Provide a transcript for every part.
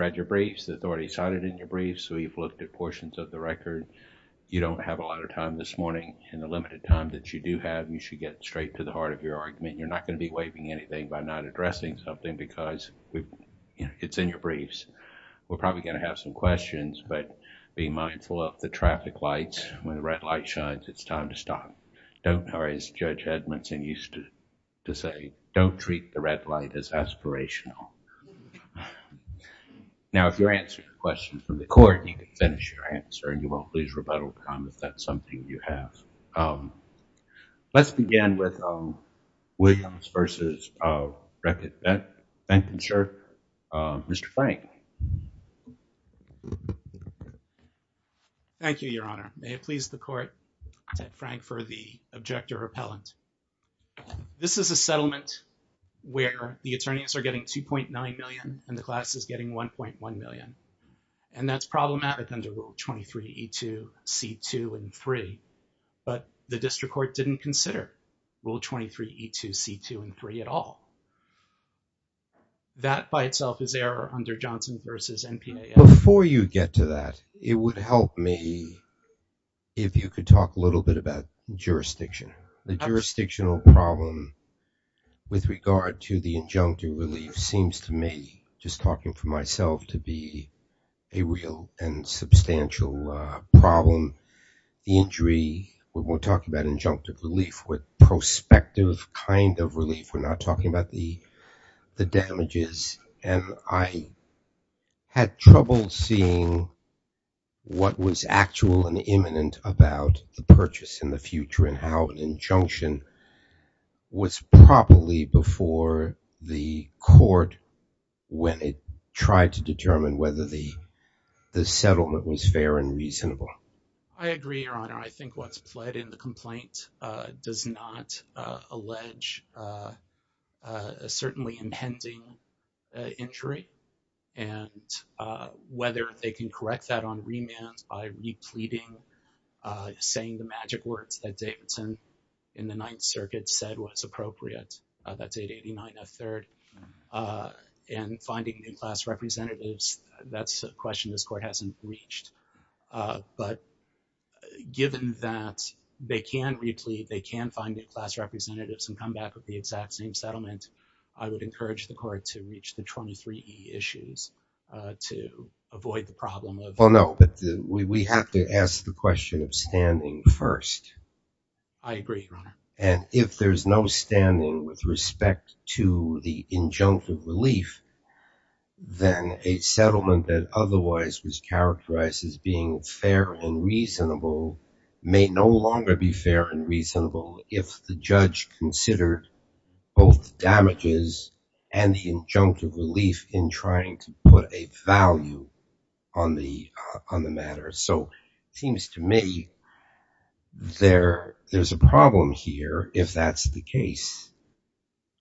read your briefs, the authority cited in your briefs, we've looked at portions of the record. You don't have a lot of time this morning and the limited time that you do have, you should get straight to the heart of your argument. You're not going to be waiving anything by not addressing something because it's in your briefs. We're probably going to have some questions but be mindful of the traffic lights. When the red light shines, it's time to stop. Don't worry, as Judge Edmondson used to say, don't treat the red light as aspirational. Now if you answer your question from the court, you can finish your answer and you won't lose rebuttal time if that's something you have. Let's begin with Williams v. Beckinshire, Mr. Frank. Thank you, Your Honor. May it please the court, I'm Ted Frank for the Objector-Appellant. This is a settlement where the attorneys are getting $2.9 million and the class is getting $1.1 million and that's problematic under Rule 23E2C2 and 3 but the District Court didn't consider Rule 23E2C2 and 3 at all. That by itself is error under Johnson v. MPAA. Before you get to that, it would help me if you could talk a little bit about jurisdiction. The jurisdictional problem with regard to the injunctive relief seems to me, just talking for myself, to be a real and substantial problem. The injury, when we're talking about injunctive relief, with prospective kind of relief, we're not talking about the damages and I had trouble seeing what was actual and imminent about the purchase in the future and how an injunction was properly before the court when it tried to determine whether the settlement was fair and reasonable. I agree, Your Honor. I think what's pled in the complaint does not allege a certainly impending injury and whether they can correct that on remand by repleting, saying the magic words that Davidson in the Ninth Circuit said was appropriate, that's 889F3rd, and finding new class representatives, that's a question this Court hasn't reached. But given that they can replete, they can find new class representatives and come back with the exact same settlement, I would encourage the Court to reach the 23E issues to avoid the problem of- I agree, Your Honor. And if there's no standing with respect to the injunctive relief, then a settlement that otherwise was characterized as being fair and reasonable may no longer be fair and reasonable if the judge considered both the damages and the injunctive relief in trying to put a value on the matter. So it seems to me there's a problem here if that's the case.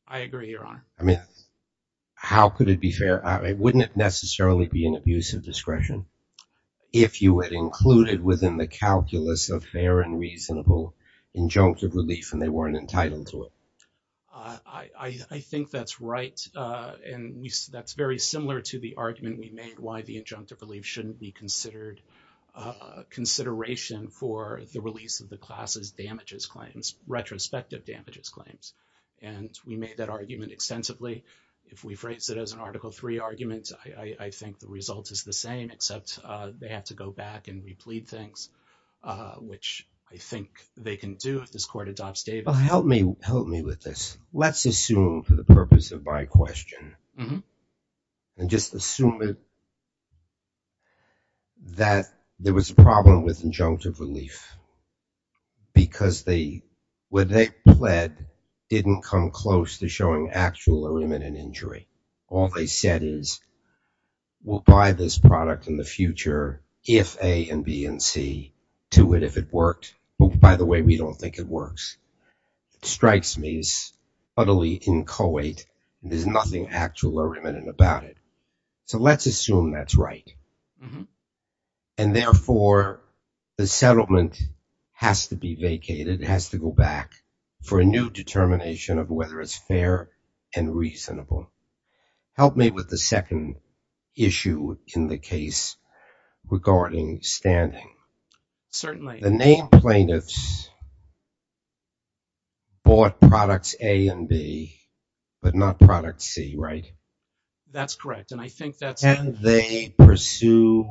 I agree, Your Honor. I mean, how could it be fair? Wouldn't it necessarily be an abuse of discretion if you had included within the calculus of fair and reasonable injunctive relief and they weren't entitled to it? I think that's right, and that's very similar to the argument we made why the injunctive relief shouldn't be considered, consideration for the release of the class's damages claims, retrospective damages claims. And we made that argument extensively. If we phrase it as an Article III argument, I think the result is the same, except they have to go back and replete things, which I think they can do if this Court adopts Davis. Help me with this. Let's assume for the purpose of my question, and just assume that there was a problem with injunctive relief because where they pled didn't come close to showing actual or imminent injury. All they said is, we'll buy this product in the future if A and B and C, to it if it worked. Oh, by the way, we don't think it works. It strikes me as utterly inchoate. There's nothing actual or imminent about it. So let's assume that's right. And therefore, the settlement has to be vacated, has to go back for a new determination of whether it's fair and reasonable. Help me with the second issue in the case regarding standing. Certainly. The named plaintiffs bought products A and B, but not product C, right? That's correct. And I think that's... Can they pursue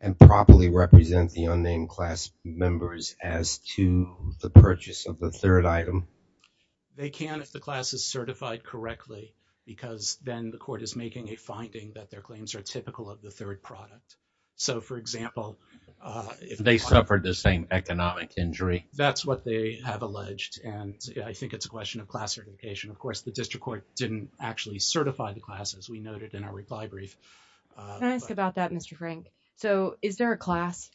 and properly represent the unnamed class members as to the purchase of the third item? They can if the class is certified correctly, because then the Court is making a claim that their claims are typical of the third product. So for example, if they suffered the same economic injury, that's what they have alleged. And I think it's a question of class certification. Of course, the District Court didn't actually certify the class, as we noted in our reply brief. Can I ask about that, Mr. Frank? So is there a class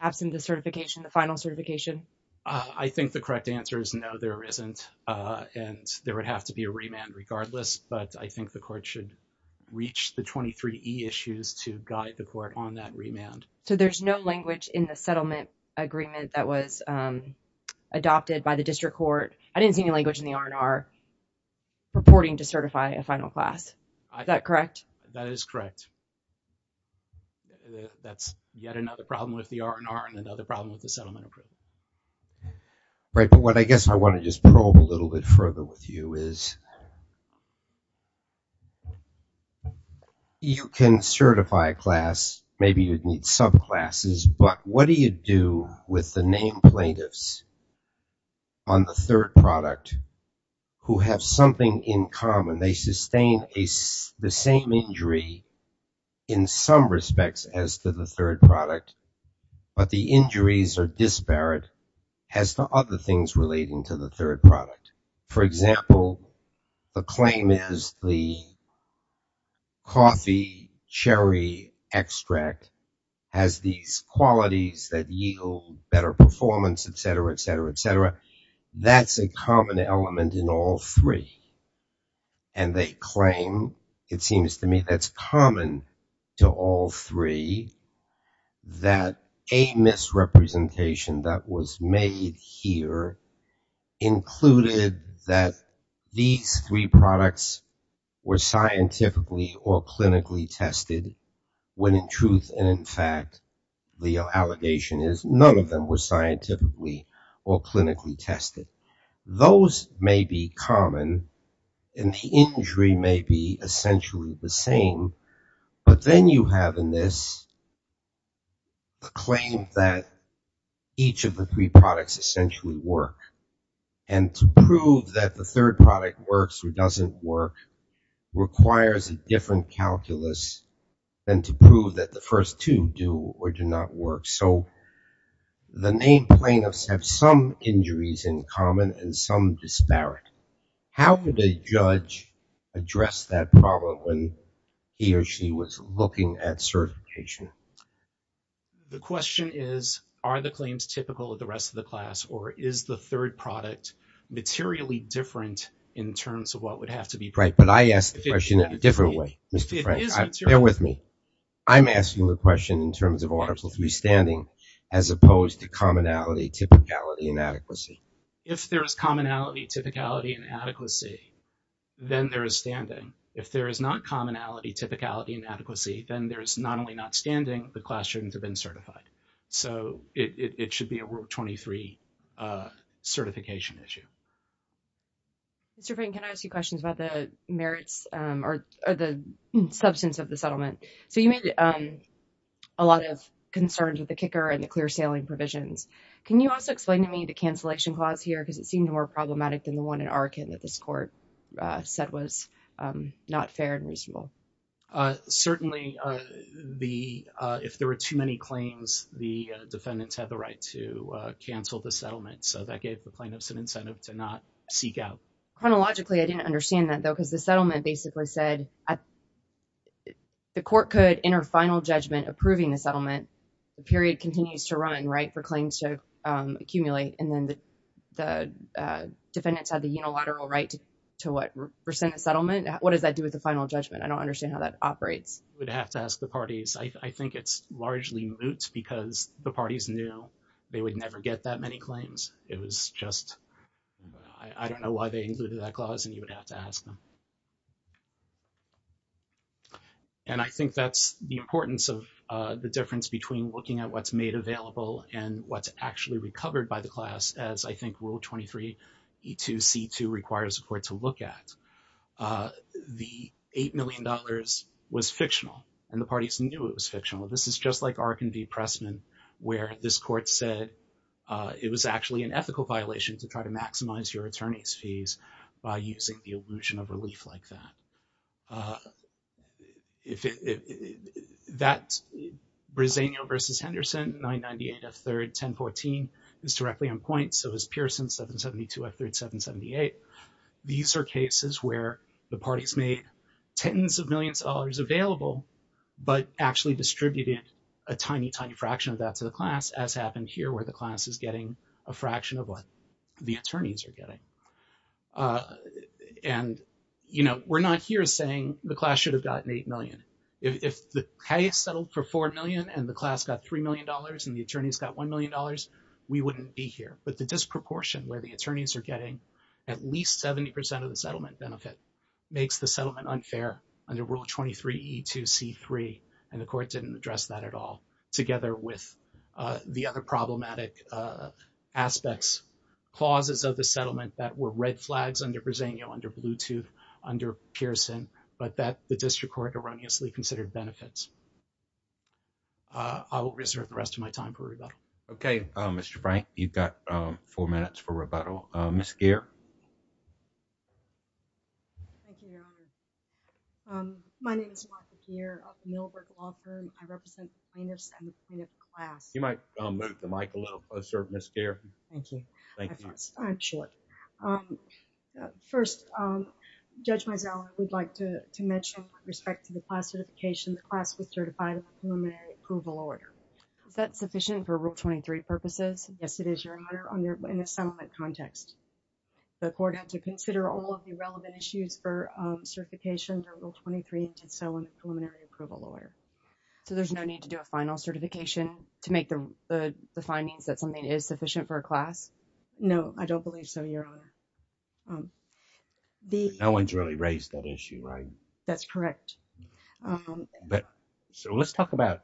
absent the certification, the final certification? I think the correct answer is no, there isn't. And there would have to be a remand regardless, but I think the Court should reach the 23E issues to guide the Court on that remand. So there's no language in the settlement agreement that was adopted by the District Court. I didn't see any language in the R&R purporting to certify a final class. Is that correct? That is correct. That's yet another problem with the R&R and another problem with the settlement approval. Right. But what I guess I want to just probe a little bit further with you is, you can certify a class, maybe you'd need subclasses, but what do you do with the named plaintiffs on the third product who have something in common? They sustain the same injury in some respects as to the third product, but the injuries are disparate as to other things relating to the third product. For example, the claim is the coffee cherry extract has these qualities that yield better performance, et cetera, et cetera, et cetera. That's a common element in all three. And they claim, it seems to me, that's common to all three that a misrepresentation that was made here included that these three products were scientifically or clinically tested, when in truth and in fact the allegation is none of them were scientifically or clinically tested. Those may be common, and the injury may be essentially the same, but then you have in this claim that each of the three products essentially work. And to prove that the third product works or doesn't work requires a different calculus than to prove that the first two do or do not work. So the named plaintiffs have some injuries in common and some disparate. How would a judge address that problem when he or she was looking at certification? The question is, are the claims typical of the rest of the class or is the third product materially different in terms of what would have to be? Right, but I asked the question in a different way, Mr. Frank. Bear with me. I'm asking the question in terms of Article III standing as opposed to commonality, typicality, and adequacy. If there is commonality, typicality, and adequacy, then there is standing. If there is not commonality, typicality, and adequacy, then there is not only not standing, the classrooms have been certified. So it should be a World 23 certification issue. Mr. Frank, can I ask you questions about the merits or the substance of the settlement? So you made a lot of concerns with the kicker and the clear sailing provisions. Can you also explain to me the cancellation clause here? Because it seemed more problematic than the one in Arkin that this court said was not fair and reasonable. Certainly, if there were too many claims, the defendants had the right to cancel the settlement. So that gave the plaintiffs an incentive to not seek out. Chronologically, I didn't understand that, though, because the settlement basically said the court could, in her final judgment approving the settlement, the period continues to run, right, for claims to accumulate. And then the defendants had the unilateral right to, what, rescind the settlement. What does that do with the final judgment? I don't understand how that operates. You would have to ask the parties. I think it's largely moot because the parties knew they would never get that many claims. It was just, I don't know why they included that clause, and you would have to ask them. And I think that's the importance of the difference between looking at what's made available and what's actually recovered by the class, as I think Rule 23E2C2 requires a court to look at. The $8 million was fictional, and the parties knew it was fictional. This is just like Arkin v. Pressman, where this court said it was actually an ethical violation to try to maximize your attorney's fees by using the illusion of relief like that. If it, that's Bresenio v. Henderson, 998 F3rd 1014 is directly on point, so is Pearson 772 F3rd 778. These are cases where the parties made tens of millions of dollars available, but actually distributed a tiny, tiny fraction of that to the class, as happened here, where the class is getting a fraction of what the attorneys are getting. And, you know, we're not here saying the class should have gotten $8 million. If the case settled for $4 million and the class got $3 million and the attorneys got $1 million, we wouldn't be here. But the disproportion where the attorneys are getting at least 70% of the settlement benefit makes the settlement unfair under Rule 23E2C3, and the court didn't address that at all, together with the other problematic aspects, clauses of the settlement that were red flags under Bresenio, under Bluetooth, under Pearson, but that the district court erroneously considered benefits. I will reserve the rest of my time for rebuttal. Okay, Mr. Frank, you've got four minutes for rebuttal. Ms. Geer. Thank you. My name is Martha Geer of the Millbrook Law Firm. I represent plaintiffs and the plaintiff class. You might move the mic a little closer, Ms. Geer. Thank you. Thank you. I'm short. First, Judge Mizell, I would like to mention with respect to the class certification, the class was certified in the preliminary approval order. Is that sufficient for Rule 23 purposes? Yes, it is, Your Honor, in a settlement context. The court had to consider all of the relevant issues for certification under Rule 23, and did so in the preliminary approval order. So, there's no need to do a final certification to make the findings that something is sufficient for a class? No, I don't believe so, Your Honor. No one's really raised that issue, right? That's correct. So, let's talk about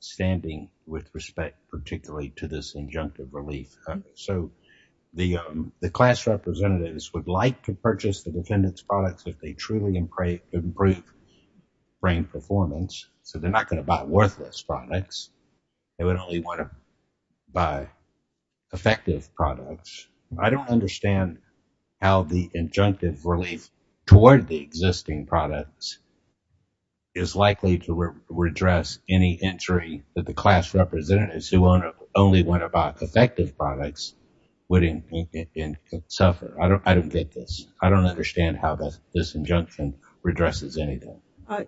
standing with respect, particularly to this injunctive relief. So, the class representatives would like to purchase the defendant's products if they truly improve brain performance. So, they're not going to buy worthless products. They would only want to buy effective products. I don't understand how the injunctive relief toward the existing products is likely to redress any injury that the class representatives who only want to buy effective products would suffer. I don't get this. I don't understand how this injunction redresses anything.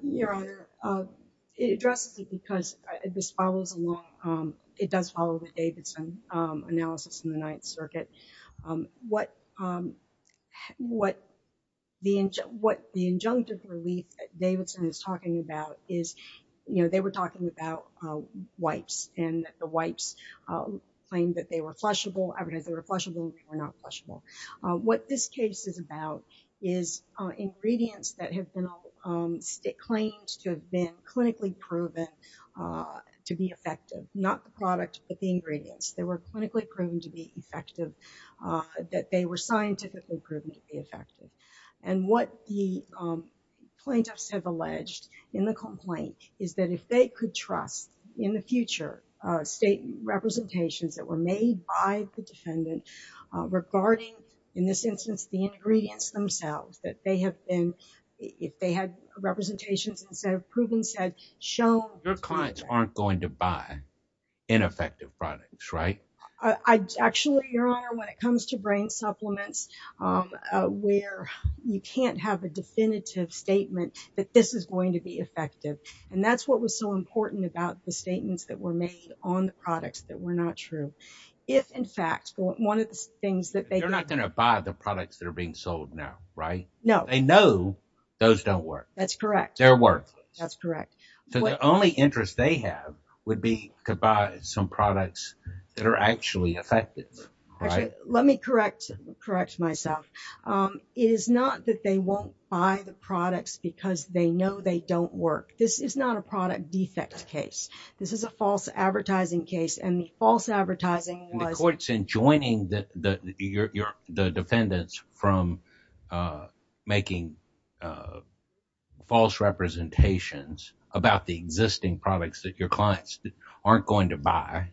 Your Honor, it addresses it because this follows along, it does follow the Davidson analysis in the Ninth Circuit. What the injunctive relief Davidson is talking about is, you know, they were talking about wipes, and the wipes claimed that they were flushable, advertised they were flushable, and they were not flushable. What this case is about is ingredients that have been claimed to have been clinically proven to be effective, not the product, but the ingredients. They were clinically proven to be effective, that they were scientifically proven to be effective. And what the plaintiffs have alleged in the complaint is that if they could trust in the future state representations that were made by the defendant regarding, in this instance, the ingredients themselves, that they have been, if they had representations instead of proven said, shown. Your clients aren't going to buy ineffective products, right? Actually, Your Honor, when it comes to brain supplements, where you can't have a definitive statement that this is going to be effective, and that's what was so important about the statements that were made on the products that were not true. If, in fact, one of the things that they... They're not going to buy the products that are being sold now, right? No. They know those don't work. That's correct. They're worthless. That's correct. So the only interest they have would be to buy some products that are actually effective. Actually, let me correct myself. It is not that they won't buy the products because they know they don't work. This is not a product defect case. This is a false advertising case, and the false advertising was... And the court's enjoining the defendants from making false representations about the existing products that your clients aren't going to buy.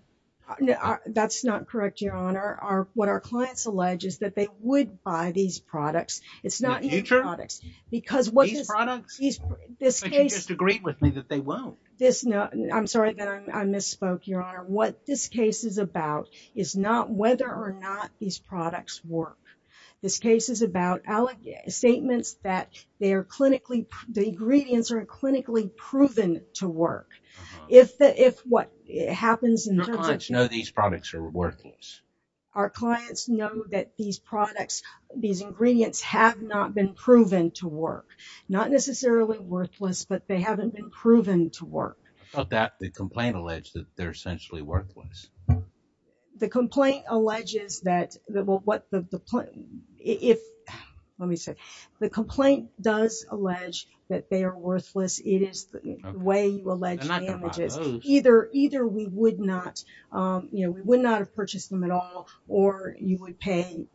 That's not correct, Your Honor. What our clients allege is that they would buy these products. It's not... The future? These products? This case... But you just agreed with me that they won't. I'm sorry that I misspoke, Your Honor. What this case is about is not whether or not these products work. This case is about statements that they are clinically... The ingredients are clinically proven to work. If what happens in terms of... Your clients know these products are worthless. Our clients know that these products, these ingredients have not been proven to work. Not necessarily worthless, but they haven't been proven to work. About that, the complaint alleged that they're essentially worthless. The complaint alleges that... Well, what the... Let me see. The complaint does allege that they are worthless. It is the way you allege damages. Either we would not... We would not have purchased them at all, or you would pay...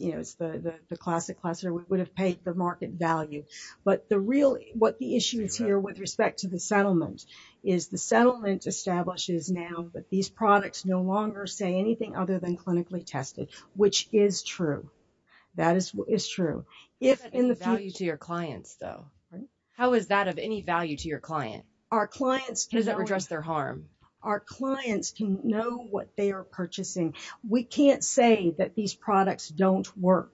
It's the classic question. We would have paid the market value. But the real... What the issue is here with respect to the settlement is the settlement establishes now that these products no longer say anything other than clinically tested, which is true. That is true. If in the future... The value to your clients, though. How is that of any value to your client? Our clients can... Does it redress their harm? Our clients can know what they are purchasing. We can't say that these products don't work.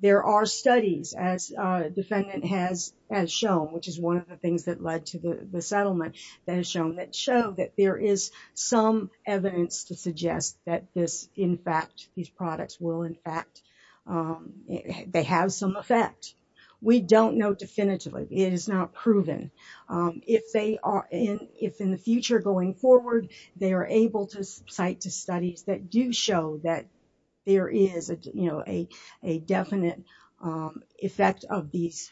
There are studies, as the defendant has shown, which is one of the things that led to the settlement that has shown, that show that there is some evidence to suggest that this, in fact, these products will, in fact, they have some effect. We don't know definitively. It is not proven. If they are... If in the future, going forward, they are able to cite to studies that do show that there is a definite effect of these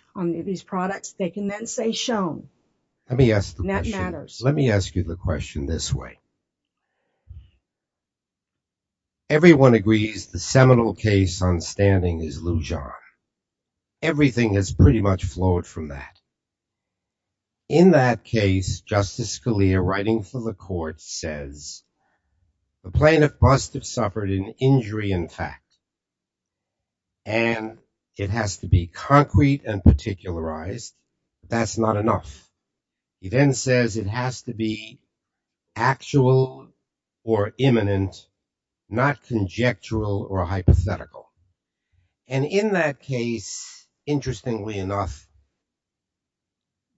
products, they can then say shown. Let me ask the question. That matters. Let me ask you the question this way. Everyone agrees the seminal case on standing is Lujan. Everything has pretty much flowed from that. In that case, Justice Scalia, writing for the court, says the plaintiff must have suffered an injury in fact. And it has to be concrete and particularized. That's not enough. He then says it has to be actual or imminent, not conjectural or hypothetical. And in that case, interestingly enough,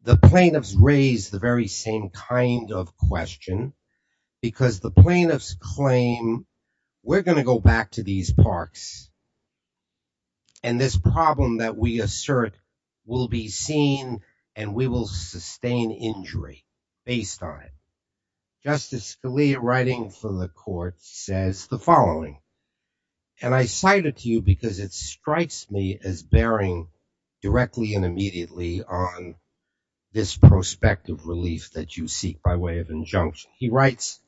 the plaintiffs raise the very same kind of question because the plaintiffs claim we're going to go back to these parks and this problem that we assert will be seen and we will sustain injury based on it. Justice Scalia, writing for the court, says the following. And I cite it to you because it strikes me as bearing directly and immediately on this prospect of relief that you seek by way of injunction. He writes,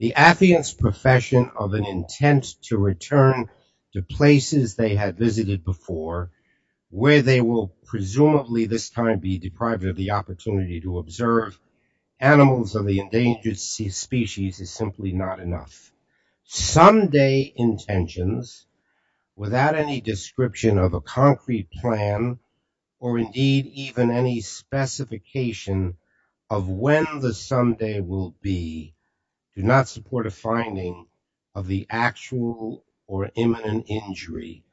the affiant's profession of an intent to return to places they had visited before, where they will presumably this time be deprived of the opportunity to observe animals of the endangered species is simply not enough. Someday intentions without any description of a concrete plan or indeed even any specification of when the someday will be do not support a finding of the actual or imminent injury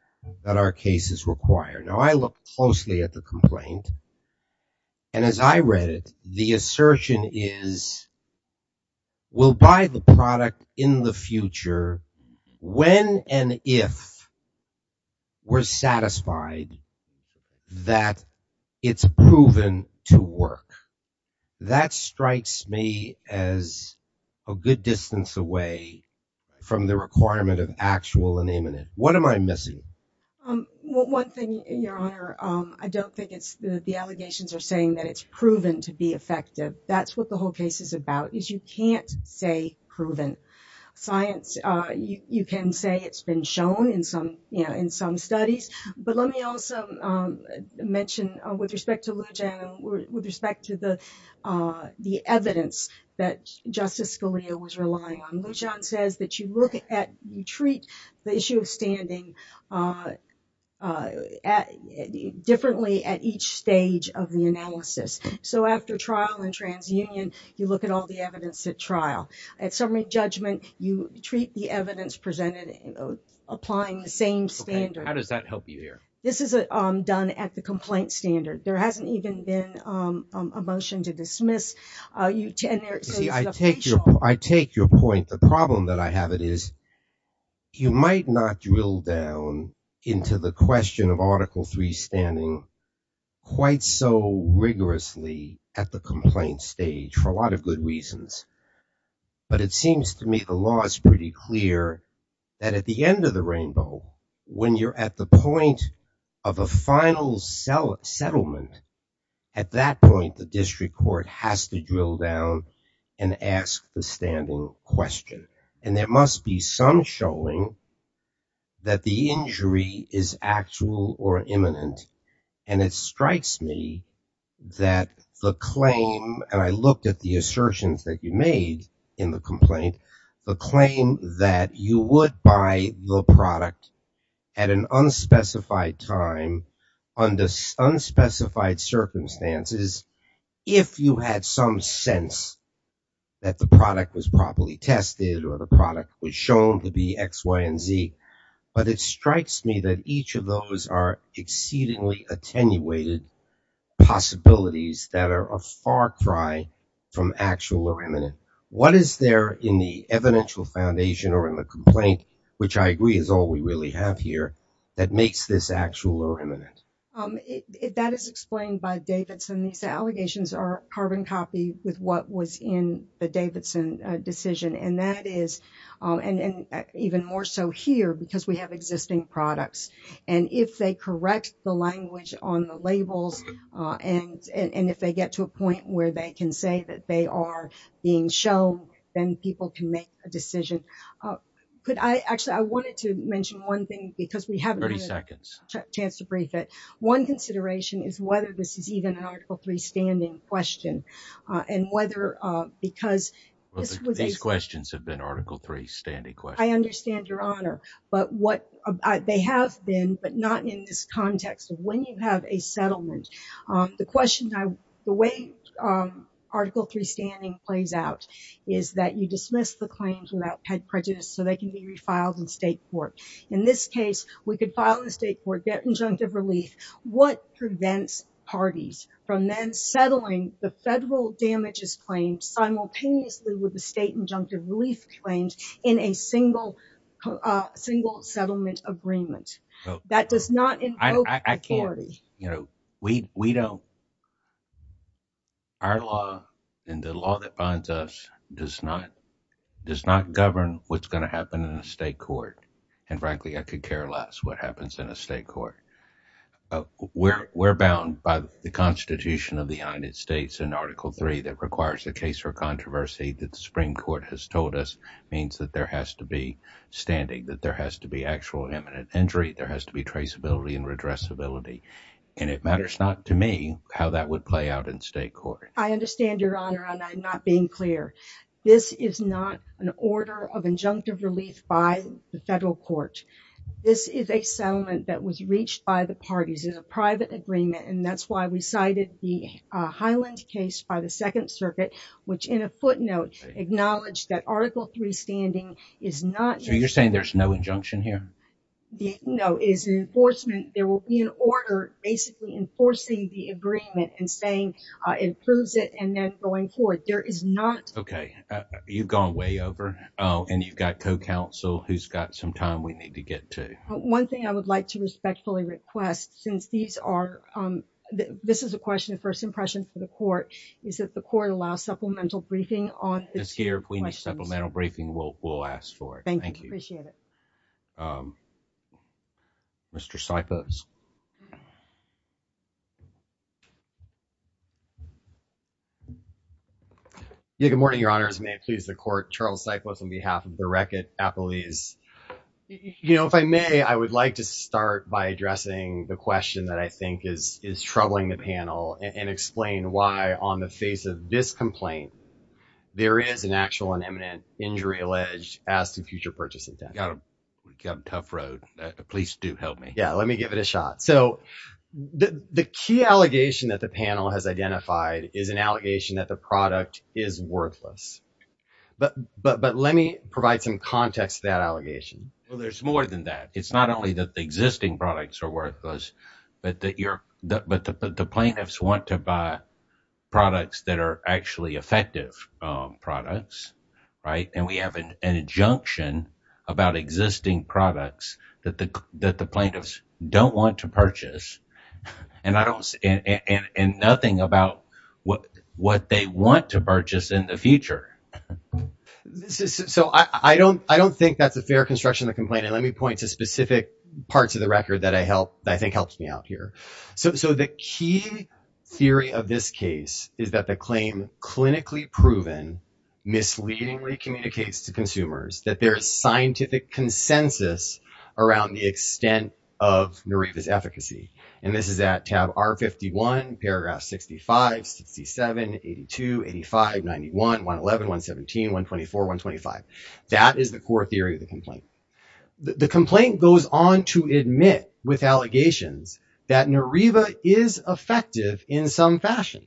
that our case is required. Now, I look closely at the complaint. And as I read it, the assertion is, we'll buy the product in the future when and if we're satisfied that it's proven to work. That strikes me as a good distance away from the requirement of actual and imminent. What am I missing? One thing, Your Honor, I don't think it's the allegations are saying that it's proven to be effective. That's what the whole case is about, is you can't say proven science. You can say it's been shown in some studies. But let me also mention with respect to Lujan, with respect to the evidence that Justice Scalia was relying on. Lujan says that you look at, you treat the issue of So after trial and transunion, you look at all the evidence at trial. At summary judgment, you treat the evidence presented applying the same standard. How does that help you here? This is done at the complaint standard. There hasn't even been a motion to dismiss. I take your point. The problem that I have, it is you might not drill down into the question of rigorously at the complaint stage for a lot of good reasons. But it seems to me the law is pretty clear that at the end of the rainbow, when you're at the point of a final settlement, at that point, the district court has to drill down and ask the standing question. And there must be some showing that the injury is actual or imminent. And it strikes me that the claim, and I looked at the assertions that you made in the complaint, the claim that you would buy the product at an unspecified time, under unspecified circumstances, if you had some sense that product was properly tested or the product was shown to be X, Y, and Z. But it strikes me that each of those are exceedingly attenuated possibilities that are a far cry from actual or imminent. What is there in the evidential foundation or in the complaint, which I agree is all we really have here, that makes this actual or imminent? That is explained by Davidson. These allegations are carbon copy with what was in the Davidson decision. And that is, and even more so here, because we have existing products. And if they correct the language on the labels, and if they get to a point where they can say that they are being shown, then people can make a decision. Actually, I wanted to mention one thing, because we haven't had a chance to brief it. One consideration is whether this is even an Article III standing question. And whether, because- These questions have been Article III standing questions. I understand your honor. But what, they have been, but not in this context of when you have a settlement. The question, the way Article III standing plays out is that you we could file a state court, get injunctive relief. What prevents parties from then settling the federal damages claim simultaneously with the state injunctive relief claims in a single settlement agreement? That does not invoke authority. I can't. We don't. Our law and the law that binds us does not govern what's going to happen in a state court. And frankly, I could care less what happens in a state court. We're bound by the Constitution of the United States in Article III that requires a case for controversy that the Supreme Court has told us means that there has to be standing, that there has to be actual imminent injury, there has to be traceability and redressability. And it matters not to me how that would play out in state court. I understand your honor, and I'm not being clear. This is not an order of court. This is a settlement that was reached by the parties in a private agreement. And that's why we cited the Highland case by the Second Circuit, which in a footnote, acknowledged that Article III standing is not. So you're saying there's no injunction here? No, it's an enforcement. There will be an order basically enforcing the agreement and saying it proves it. And then going forward, there is not. Okay. You've gone way over. Oh, and you've got co-counsel who's got some time we need to get to. One thing I would like to respectfully request, since these are, um, this is a question of first impression for the court, is that the court allows supplemental briefing on this year. If we need supplemental briefing, we'll, we'll ask for it. Thank you. Appreciate it. Um, Mr. Cyphers. Yeah. Good morning, your honors. May it please the court. Charles Cyphers on behalf of the record appellees. You know, if I may, I would like to start by addressing the question that I think is, is troubling the panel and explain why on the face of this complaint, there is an actual and imminent injury alleged as to future purchasing. Got a tough road. Please do help me. Yeah. Let me give it a shot. So the, the key allegation that the panel has identified is an allegation that the product is worthless, but, but, but let me provide some context to that allegation. Well, there's more than that. It's not only that the existing products are worthless, but that you're, but the plaintiffs want to buy products that are actually effective, um, products, right. And we have an injunction about existing products that the, that the plaintiffs don't want to purchase. And I don't, and, and, and nothing about what, what they want to purchase in the future. So I don't, I don't think that's a fair construction to complain. And let me point to specific parts of the record that I helped, I think helps me out here. So, so the key theory of this case is that the claim clinically proven misleadingly communicates to consumers that there's scientific consensus around the extent of Nariva's efficacy. And this is at tab R51, paragraph 65, 67, 82, 85, 91, 111, 117, 124, 125. That is the core theory of the complaint. The complaint goes on to admit with allegations that Nariva is effective in some fashion.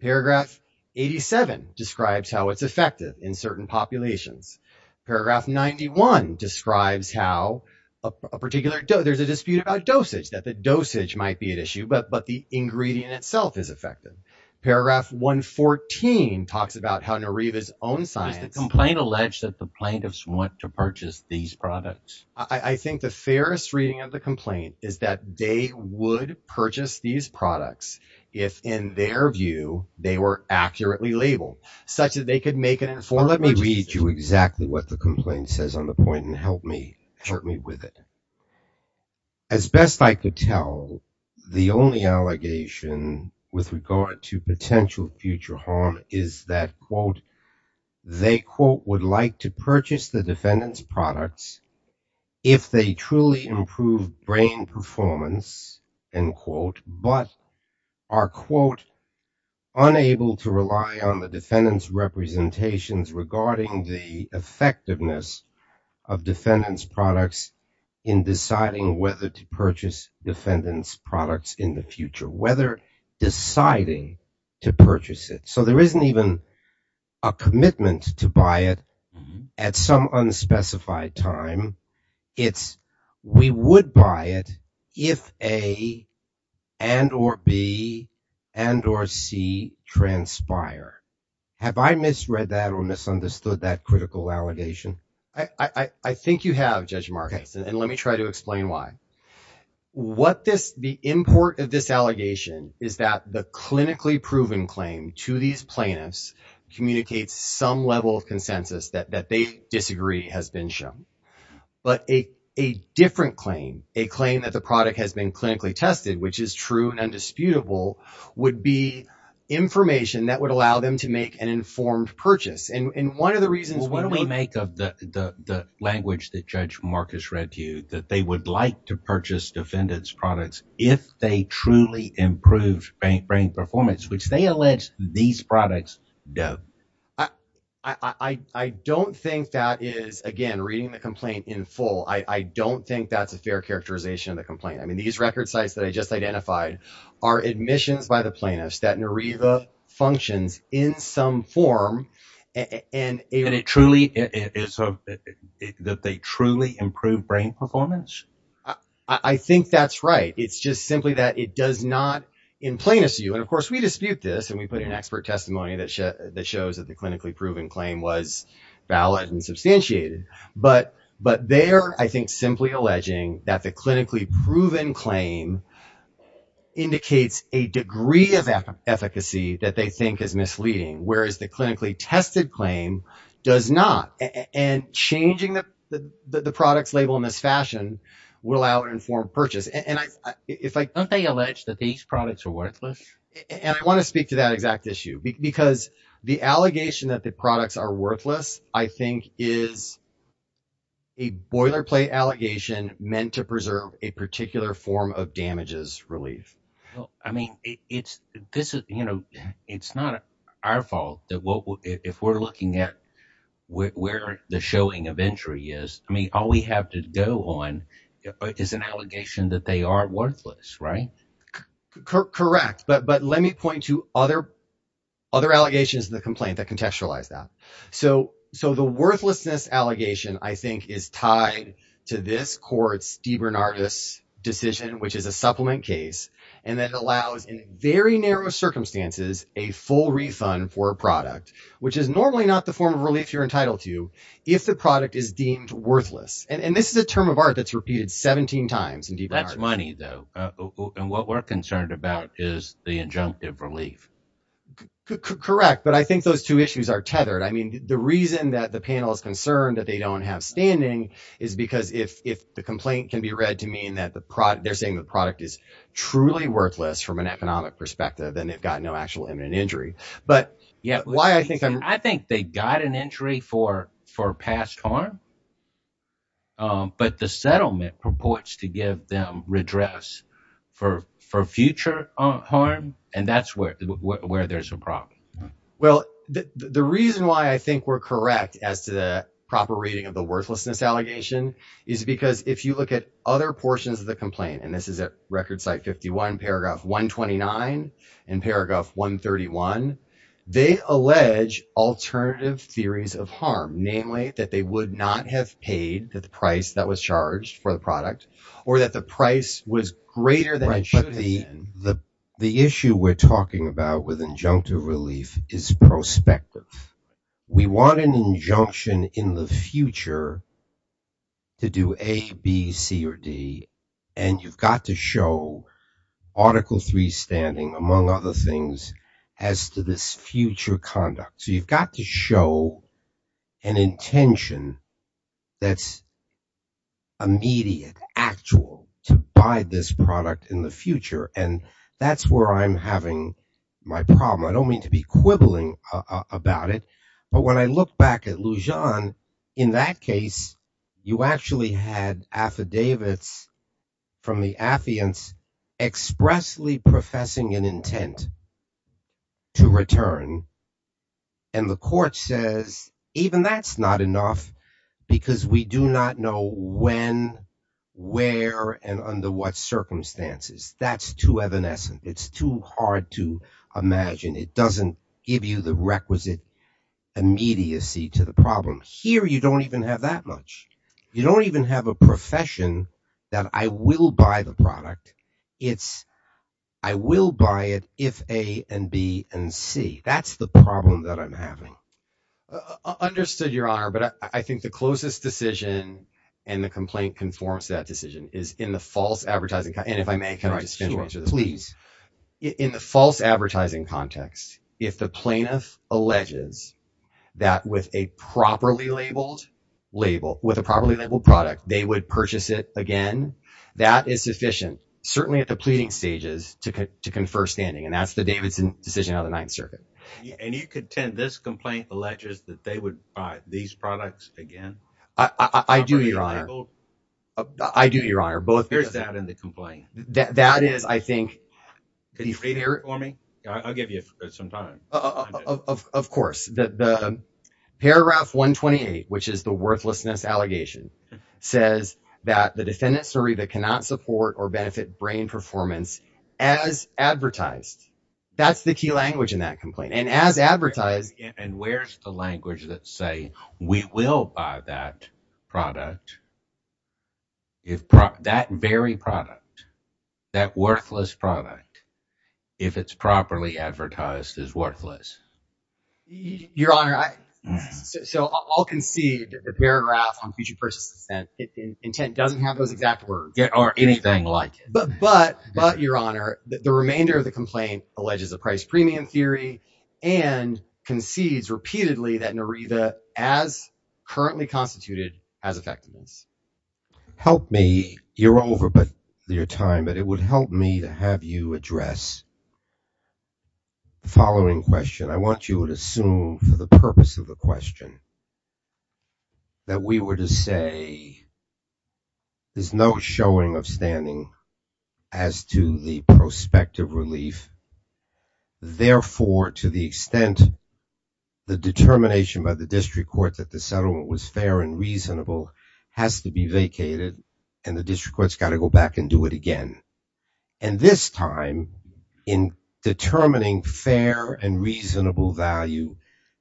Paragraph 87 describes how it's effective in certain populations. Paragraph 91 describes how a particular, there's a dispute about dosage, that the dosage might be at issue, but, but the ingredient itself is effective. Paragraph 114 talks about how Nariva's own science... Does the complaint allege that the plaintiffs want to purchase these products? I think the fairest reading of the complaint is that they would purchase these products if in their view, they were accurately labeled such that they could make an informed purchase. Well, let me read you exactly what the complaint says on the point and help me, help me with it. As best I could tell, the only allegation with regard to potential future harm is that quote, they quote, would like to purchase the defendant's products if they truly improve brain performance, end quote, but are quote, unable to rely on the defendant's representations regarding the effectiveness of defendant's products in deciding whether to purchase defendant's products in the future, whether deciding to purchase it. So there isn't even a commitment to buy it at some unspecified time. It's, we would buy it if A and or B and or C transpire. Have I misread that or misunderstood that critical allegation? I, I, I think you have Judge Marcus, and let me try to explain why. What this, the import of this communicates some level of consensus that, that they disagree has been shown, but a, a different claim, a claim that the product has been clinically tested, which is true and undisputable would be information that would allow them to make an informed purchase. And, and one of the reasons why don't we make up the, the, the language that Judge Marcus read to you, that they would like to purchase defendant's products if they truly improved brain performance, which they allege these products do. I, I, I, I don't think that is again, reading the complaint in full. I don't think that's a fair characterization of the complaint. I mean, these record sites that I just identified are admissions by the plaintiffs that Nareva functions in some form and it truly is that they truly improve brain performance. I, I think that's right. It's just simply that it does not in plainest view. And of course we dispute this and we put an expert testimony that shows that the clinically proven claim was valid and substantiated, but, but they're, I think, simply alleging that the clinically proven claim indicates a degree of efficacy that they think is misleading. Whereas the clinically tested claim does not. And changing the, the, the products label in this fashion will allow an informed purchase. And I, if I don't, they allege that these products are worthless. And I want to speak to that exact issue because the allegation that the products are worthless, I think is a boilerplate allegation meant to preserve a particular form of damages relief. I mean, it's, this is, you know, it's not our fault that if we're looking at where the showing of injury is, I mean, all we have to go on is an allegation that they are worthless, right? Correct. But, but let me point to other, other allegations in the complaint that contextualize that. So, so the worthlessness allegation I think is tied to this court's DeBernardis decision, which is a supplement case. And that allows in very narrow circumstances, a full refund for a product, which is normally not the form of relief you're entitled to if the product is deemed worthless. And this is a term of art that's repeated 17 times. That's money though. And what we're concerned about is the injunctive relief. Correct. But I think those two issues are tethered. I mean, the reason that the panel is concerned that they don't have standing is because if, if the complaint can be read to mean that the product they're saying the product is truly worthless from an economic perspective, then they've got no actual imminent injury. But yeah, why I think, I think they got an injury for, for past harm. But the settlement purports to give them redress for, for future harm. And that's where, where there's a problem. Well, the, the reason why I think we're correct as to the proper rating of the worthlessness allegation is because if you look at other portions of the complaint, and this is at record site 51 paragraph 129 and paragraph 131, they allege alternative theories of harm, namely that they would not have paid the price that was charged for the product or that the price was greater than it should have been. The issue we're talking about with injunctive relief is prospective. We want an injunction in the future to do A, B, C, or D. And you've got to show article three standing among other things as to this future conduct. So you've got to show an intention that's immediate, actual to buy this product in the future. And that's where I'm having my problem. I don't mean to be quibbling about it, but when I look back at Lujan, in that case, you actually had affidavits from the affiants expressly professing an intent to return. And the court says, even that's not enough because we do not know when, where, and under what circumstances. That's too evanescent. It's too hard to imagine. It doesn't give you the requisite immediacy to the problem. Here, you don't even have that much. You don't even have a profession that I will buy the product. It's, I will buy it if A and B and C. That's the problem that I'm having. Understood, Your Honor. But I think the closest decision and the complaint conforms to that decision is in the false advertising. And if I may, can I just finish? Please. In the false advertising context, if the plaintiff alleges that with a properly labeled label, with a properly labeled product, they would purchase it again, that is sufficient, certainly at the pleading stages, to confer standing. And that's the Davidson decision out of the Ninth Circuit. And you contend this complaint alleges that they would buy these products again? I do, Your Honor. I do, Your Honor, both. Where's that in the complaint? That is, I think. Can you read it for me? I'll give you some time. Of course. Paragraph 128, which is the worthlessness allegation, says that the defendant's story that cannot support or benefit brain performance as advertised. That's the key language in that complaint. And as advertised. And where's the language that say, we will buy that product, that very product, that worthless product, if it's properly advertised as worthless? Your Honor, so I'll concede that the paragraph on future purchase intent doesn't have those exact words. Or anything like it. But, Your Honor, the remainder of the complaint alleges a price premium theory and concedes repeatedly that Narita, as currently constituted, has effectiveness. Help me, you're over your time, but it would help me to have you address the following question. I want you to assume for the purpose of the question that we were to say there's no showing of standing as to the prospective relief. Therefore, to the extent the determination by the district court that the settlement was fair and reasonable has to be vacated and the district court's got to go back and do it again. And this time, in determining fair and reasonable value,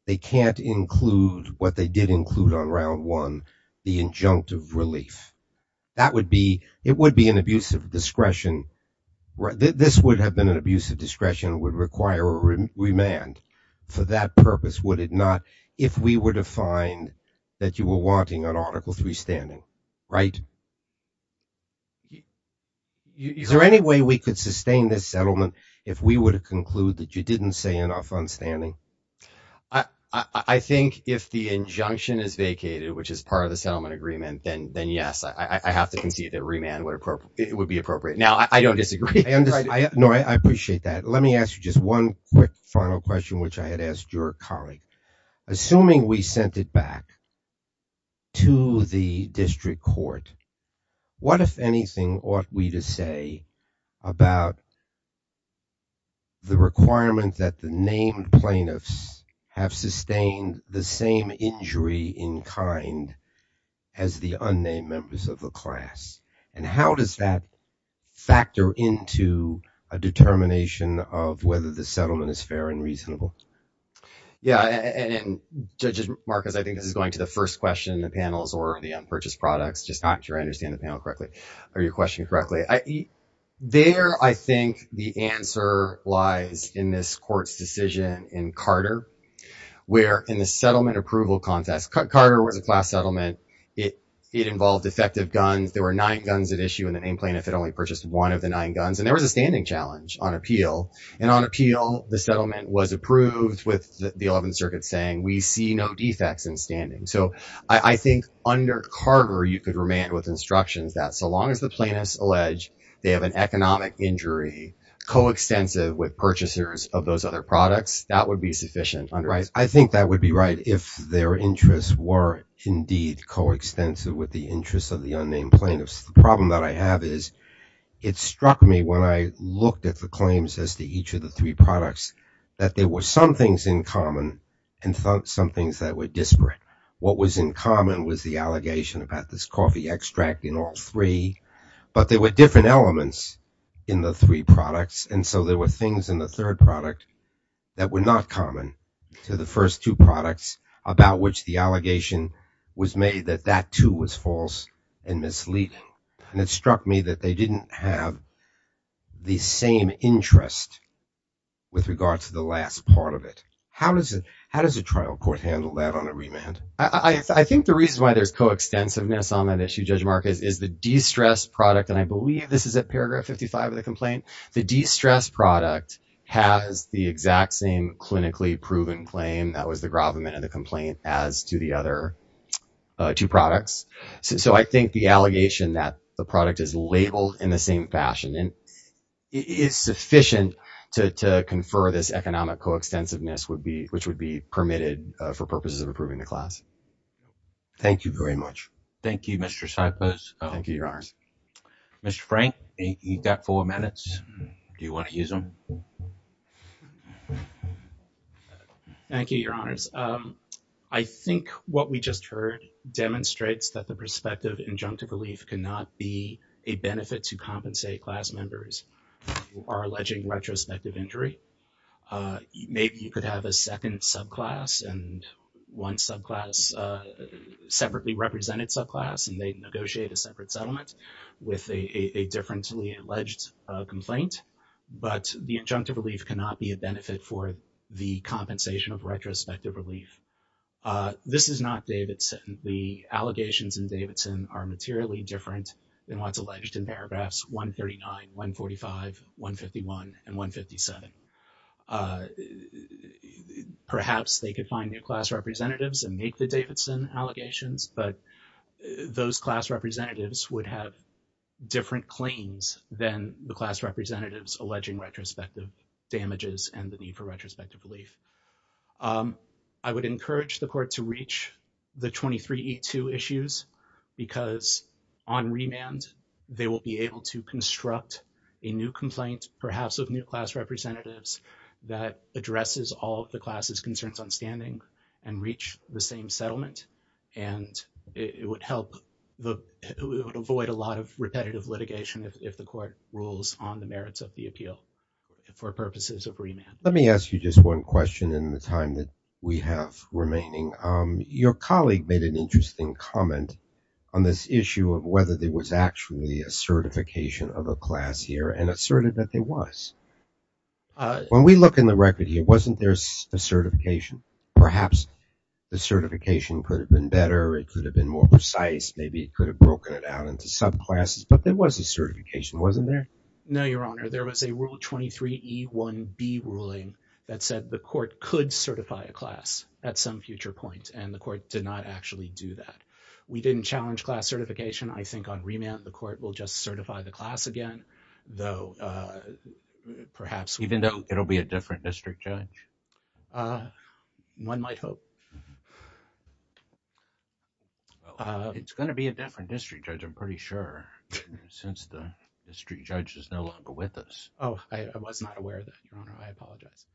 they can't include what they did include on round one, the injunctive relief. That would be, it would be an abuse of discretion. This would have been an abuse of discretion, would require a remand. For that purpose, would it not, if we find that you were wanting an article three standing, right? Is there any way we could sustain this settlement if we were to conclude that you didn't say enough on standing? I think if the injunction is vacated, which is part of the settlement agreement, then yes, I have to concede that remand would be appropriate. Now, I don't disagree. No, I appreciate that. Let me ask you just one quick final question, which I had asked your colleague. Assuming we sent it back to the district court, what, if anything, ought we to say about the requirement that the named plaintiffs have sustained the same injury in kind as the unnamed members of the class? And how does that factor into a determination of whether the unnamed members of the class have sustained the same injury? Yeah. And, Judge Marcus, I think this is going to the first question in the panels or the unpurchased products, just not sure I understand the panel correctly, or your question correctly. There, I think the answer lies in this court's decision in Carter, where in the settlement approval contest, Carter was a class settlement. It involved defective guns. There were nine guns at issue in the name plaintiff that only purchased one of the nine guns. And there was a standing challenge on appeal. And on appeal, the settlement was approved with the 11th Circuit saying, we see no defects in standing. So I think under Carter, you could remand with instructions that so long as the plaintiffs allege they have an economic injury coextensive with purchasers of those other products, that would be sufficient. I think that would be right if their interests were indeed coextensive with the interests of the unnamed plaintiffs. The problem that I have is it struck me when I looked at the claims as to each of the three products that there were some things in common and some things that were disparate. What was in common was the allegation about this coffee extract in all three. But there were different elements in the three products, and so there were things in the third product that were not common to the first two products about which the allegation was made that that too was false and misleading. And it struck me that they didn't have the same interest with regard to the last part of it. How does a trial court handle that on a remand? I think the reason why there's coextensiveness on that issue, Judge Marcus, is the de-stressed product. And I believe this is at paragraph 55 of the complaint. The de-stressed product has the exact same clinically proven claim that was the gravamen in the complaint as to the other two products. So I think the allegation that the product is labeled in the same fashion is sufficient to confer this economic coextensiveness which would be permitted for purposes of approving the class. Thank you very much. Thank you, Mr. Sipos. Thank you, Your Honors. Mr. Frank, you've got four minutes. Do you want to use them? Thank you, Your Honors. I think what we just heard demonstrates that the perspective injunctive relief cannot be a benefit to compensate class members who are alleging retrospective injury. Maybe you could have a second subclass and one subclass, separately represented subclass, and they negotiate a separate settlement with a differentially alleged complaint, but the injunctive relief cannot be a benefit for the compensation of retrospective relief. This is not Davidson. The allegations in Davidson are materially different than what's alleged in paragraphs 139, 145, 151, and 157. Perhaps they could find new class representatives and make the Davidson allegations, but those class representatives would have different claims than the class representatives alleging retrospective damages and the need for retrospective relief. I would encourage the Court to reach the 23E2 issues because on remand, they will be able to construct a new complaint, perhaps with new class representatives, that addresses all of the class's concerns on standing and reach the same settlement, and it would help avoid a lot of repetitive litigation if the Court rules on the merits of the appeal for purposes of remand. Let me ask you just one question in the time that we have remaining. Your colleague made an interesting comment on this issue of whether there was actually a certification of a class here and asserted that there was. When we look in the record here, wasn't there a certification? Perhaps the certification could have been better. It could have been more precise. Maybe it could have broken it down into subclasses, but there was a certification, wasn't there? No, Your Honor. There was a Rule 23E1B ruling that said the Court could certify a class at some future point, and the Court did not actually do that. We didn't challenge class certification. I think on remand, the Court will just certify the class again, though perhaps— One might hope. It's going to be a different district judge, I'm pretty sure, since the district judge is no longer with us. Oh, I was not aware of that, Your Honor. I apologize.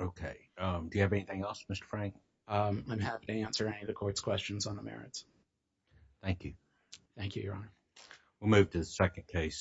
Okay. Do you have anything else, Mr. Frank? I'm happy to answer any of the Court's questions on the merits. Thank you. Thank you, Your Honor. We'll move to the second case.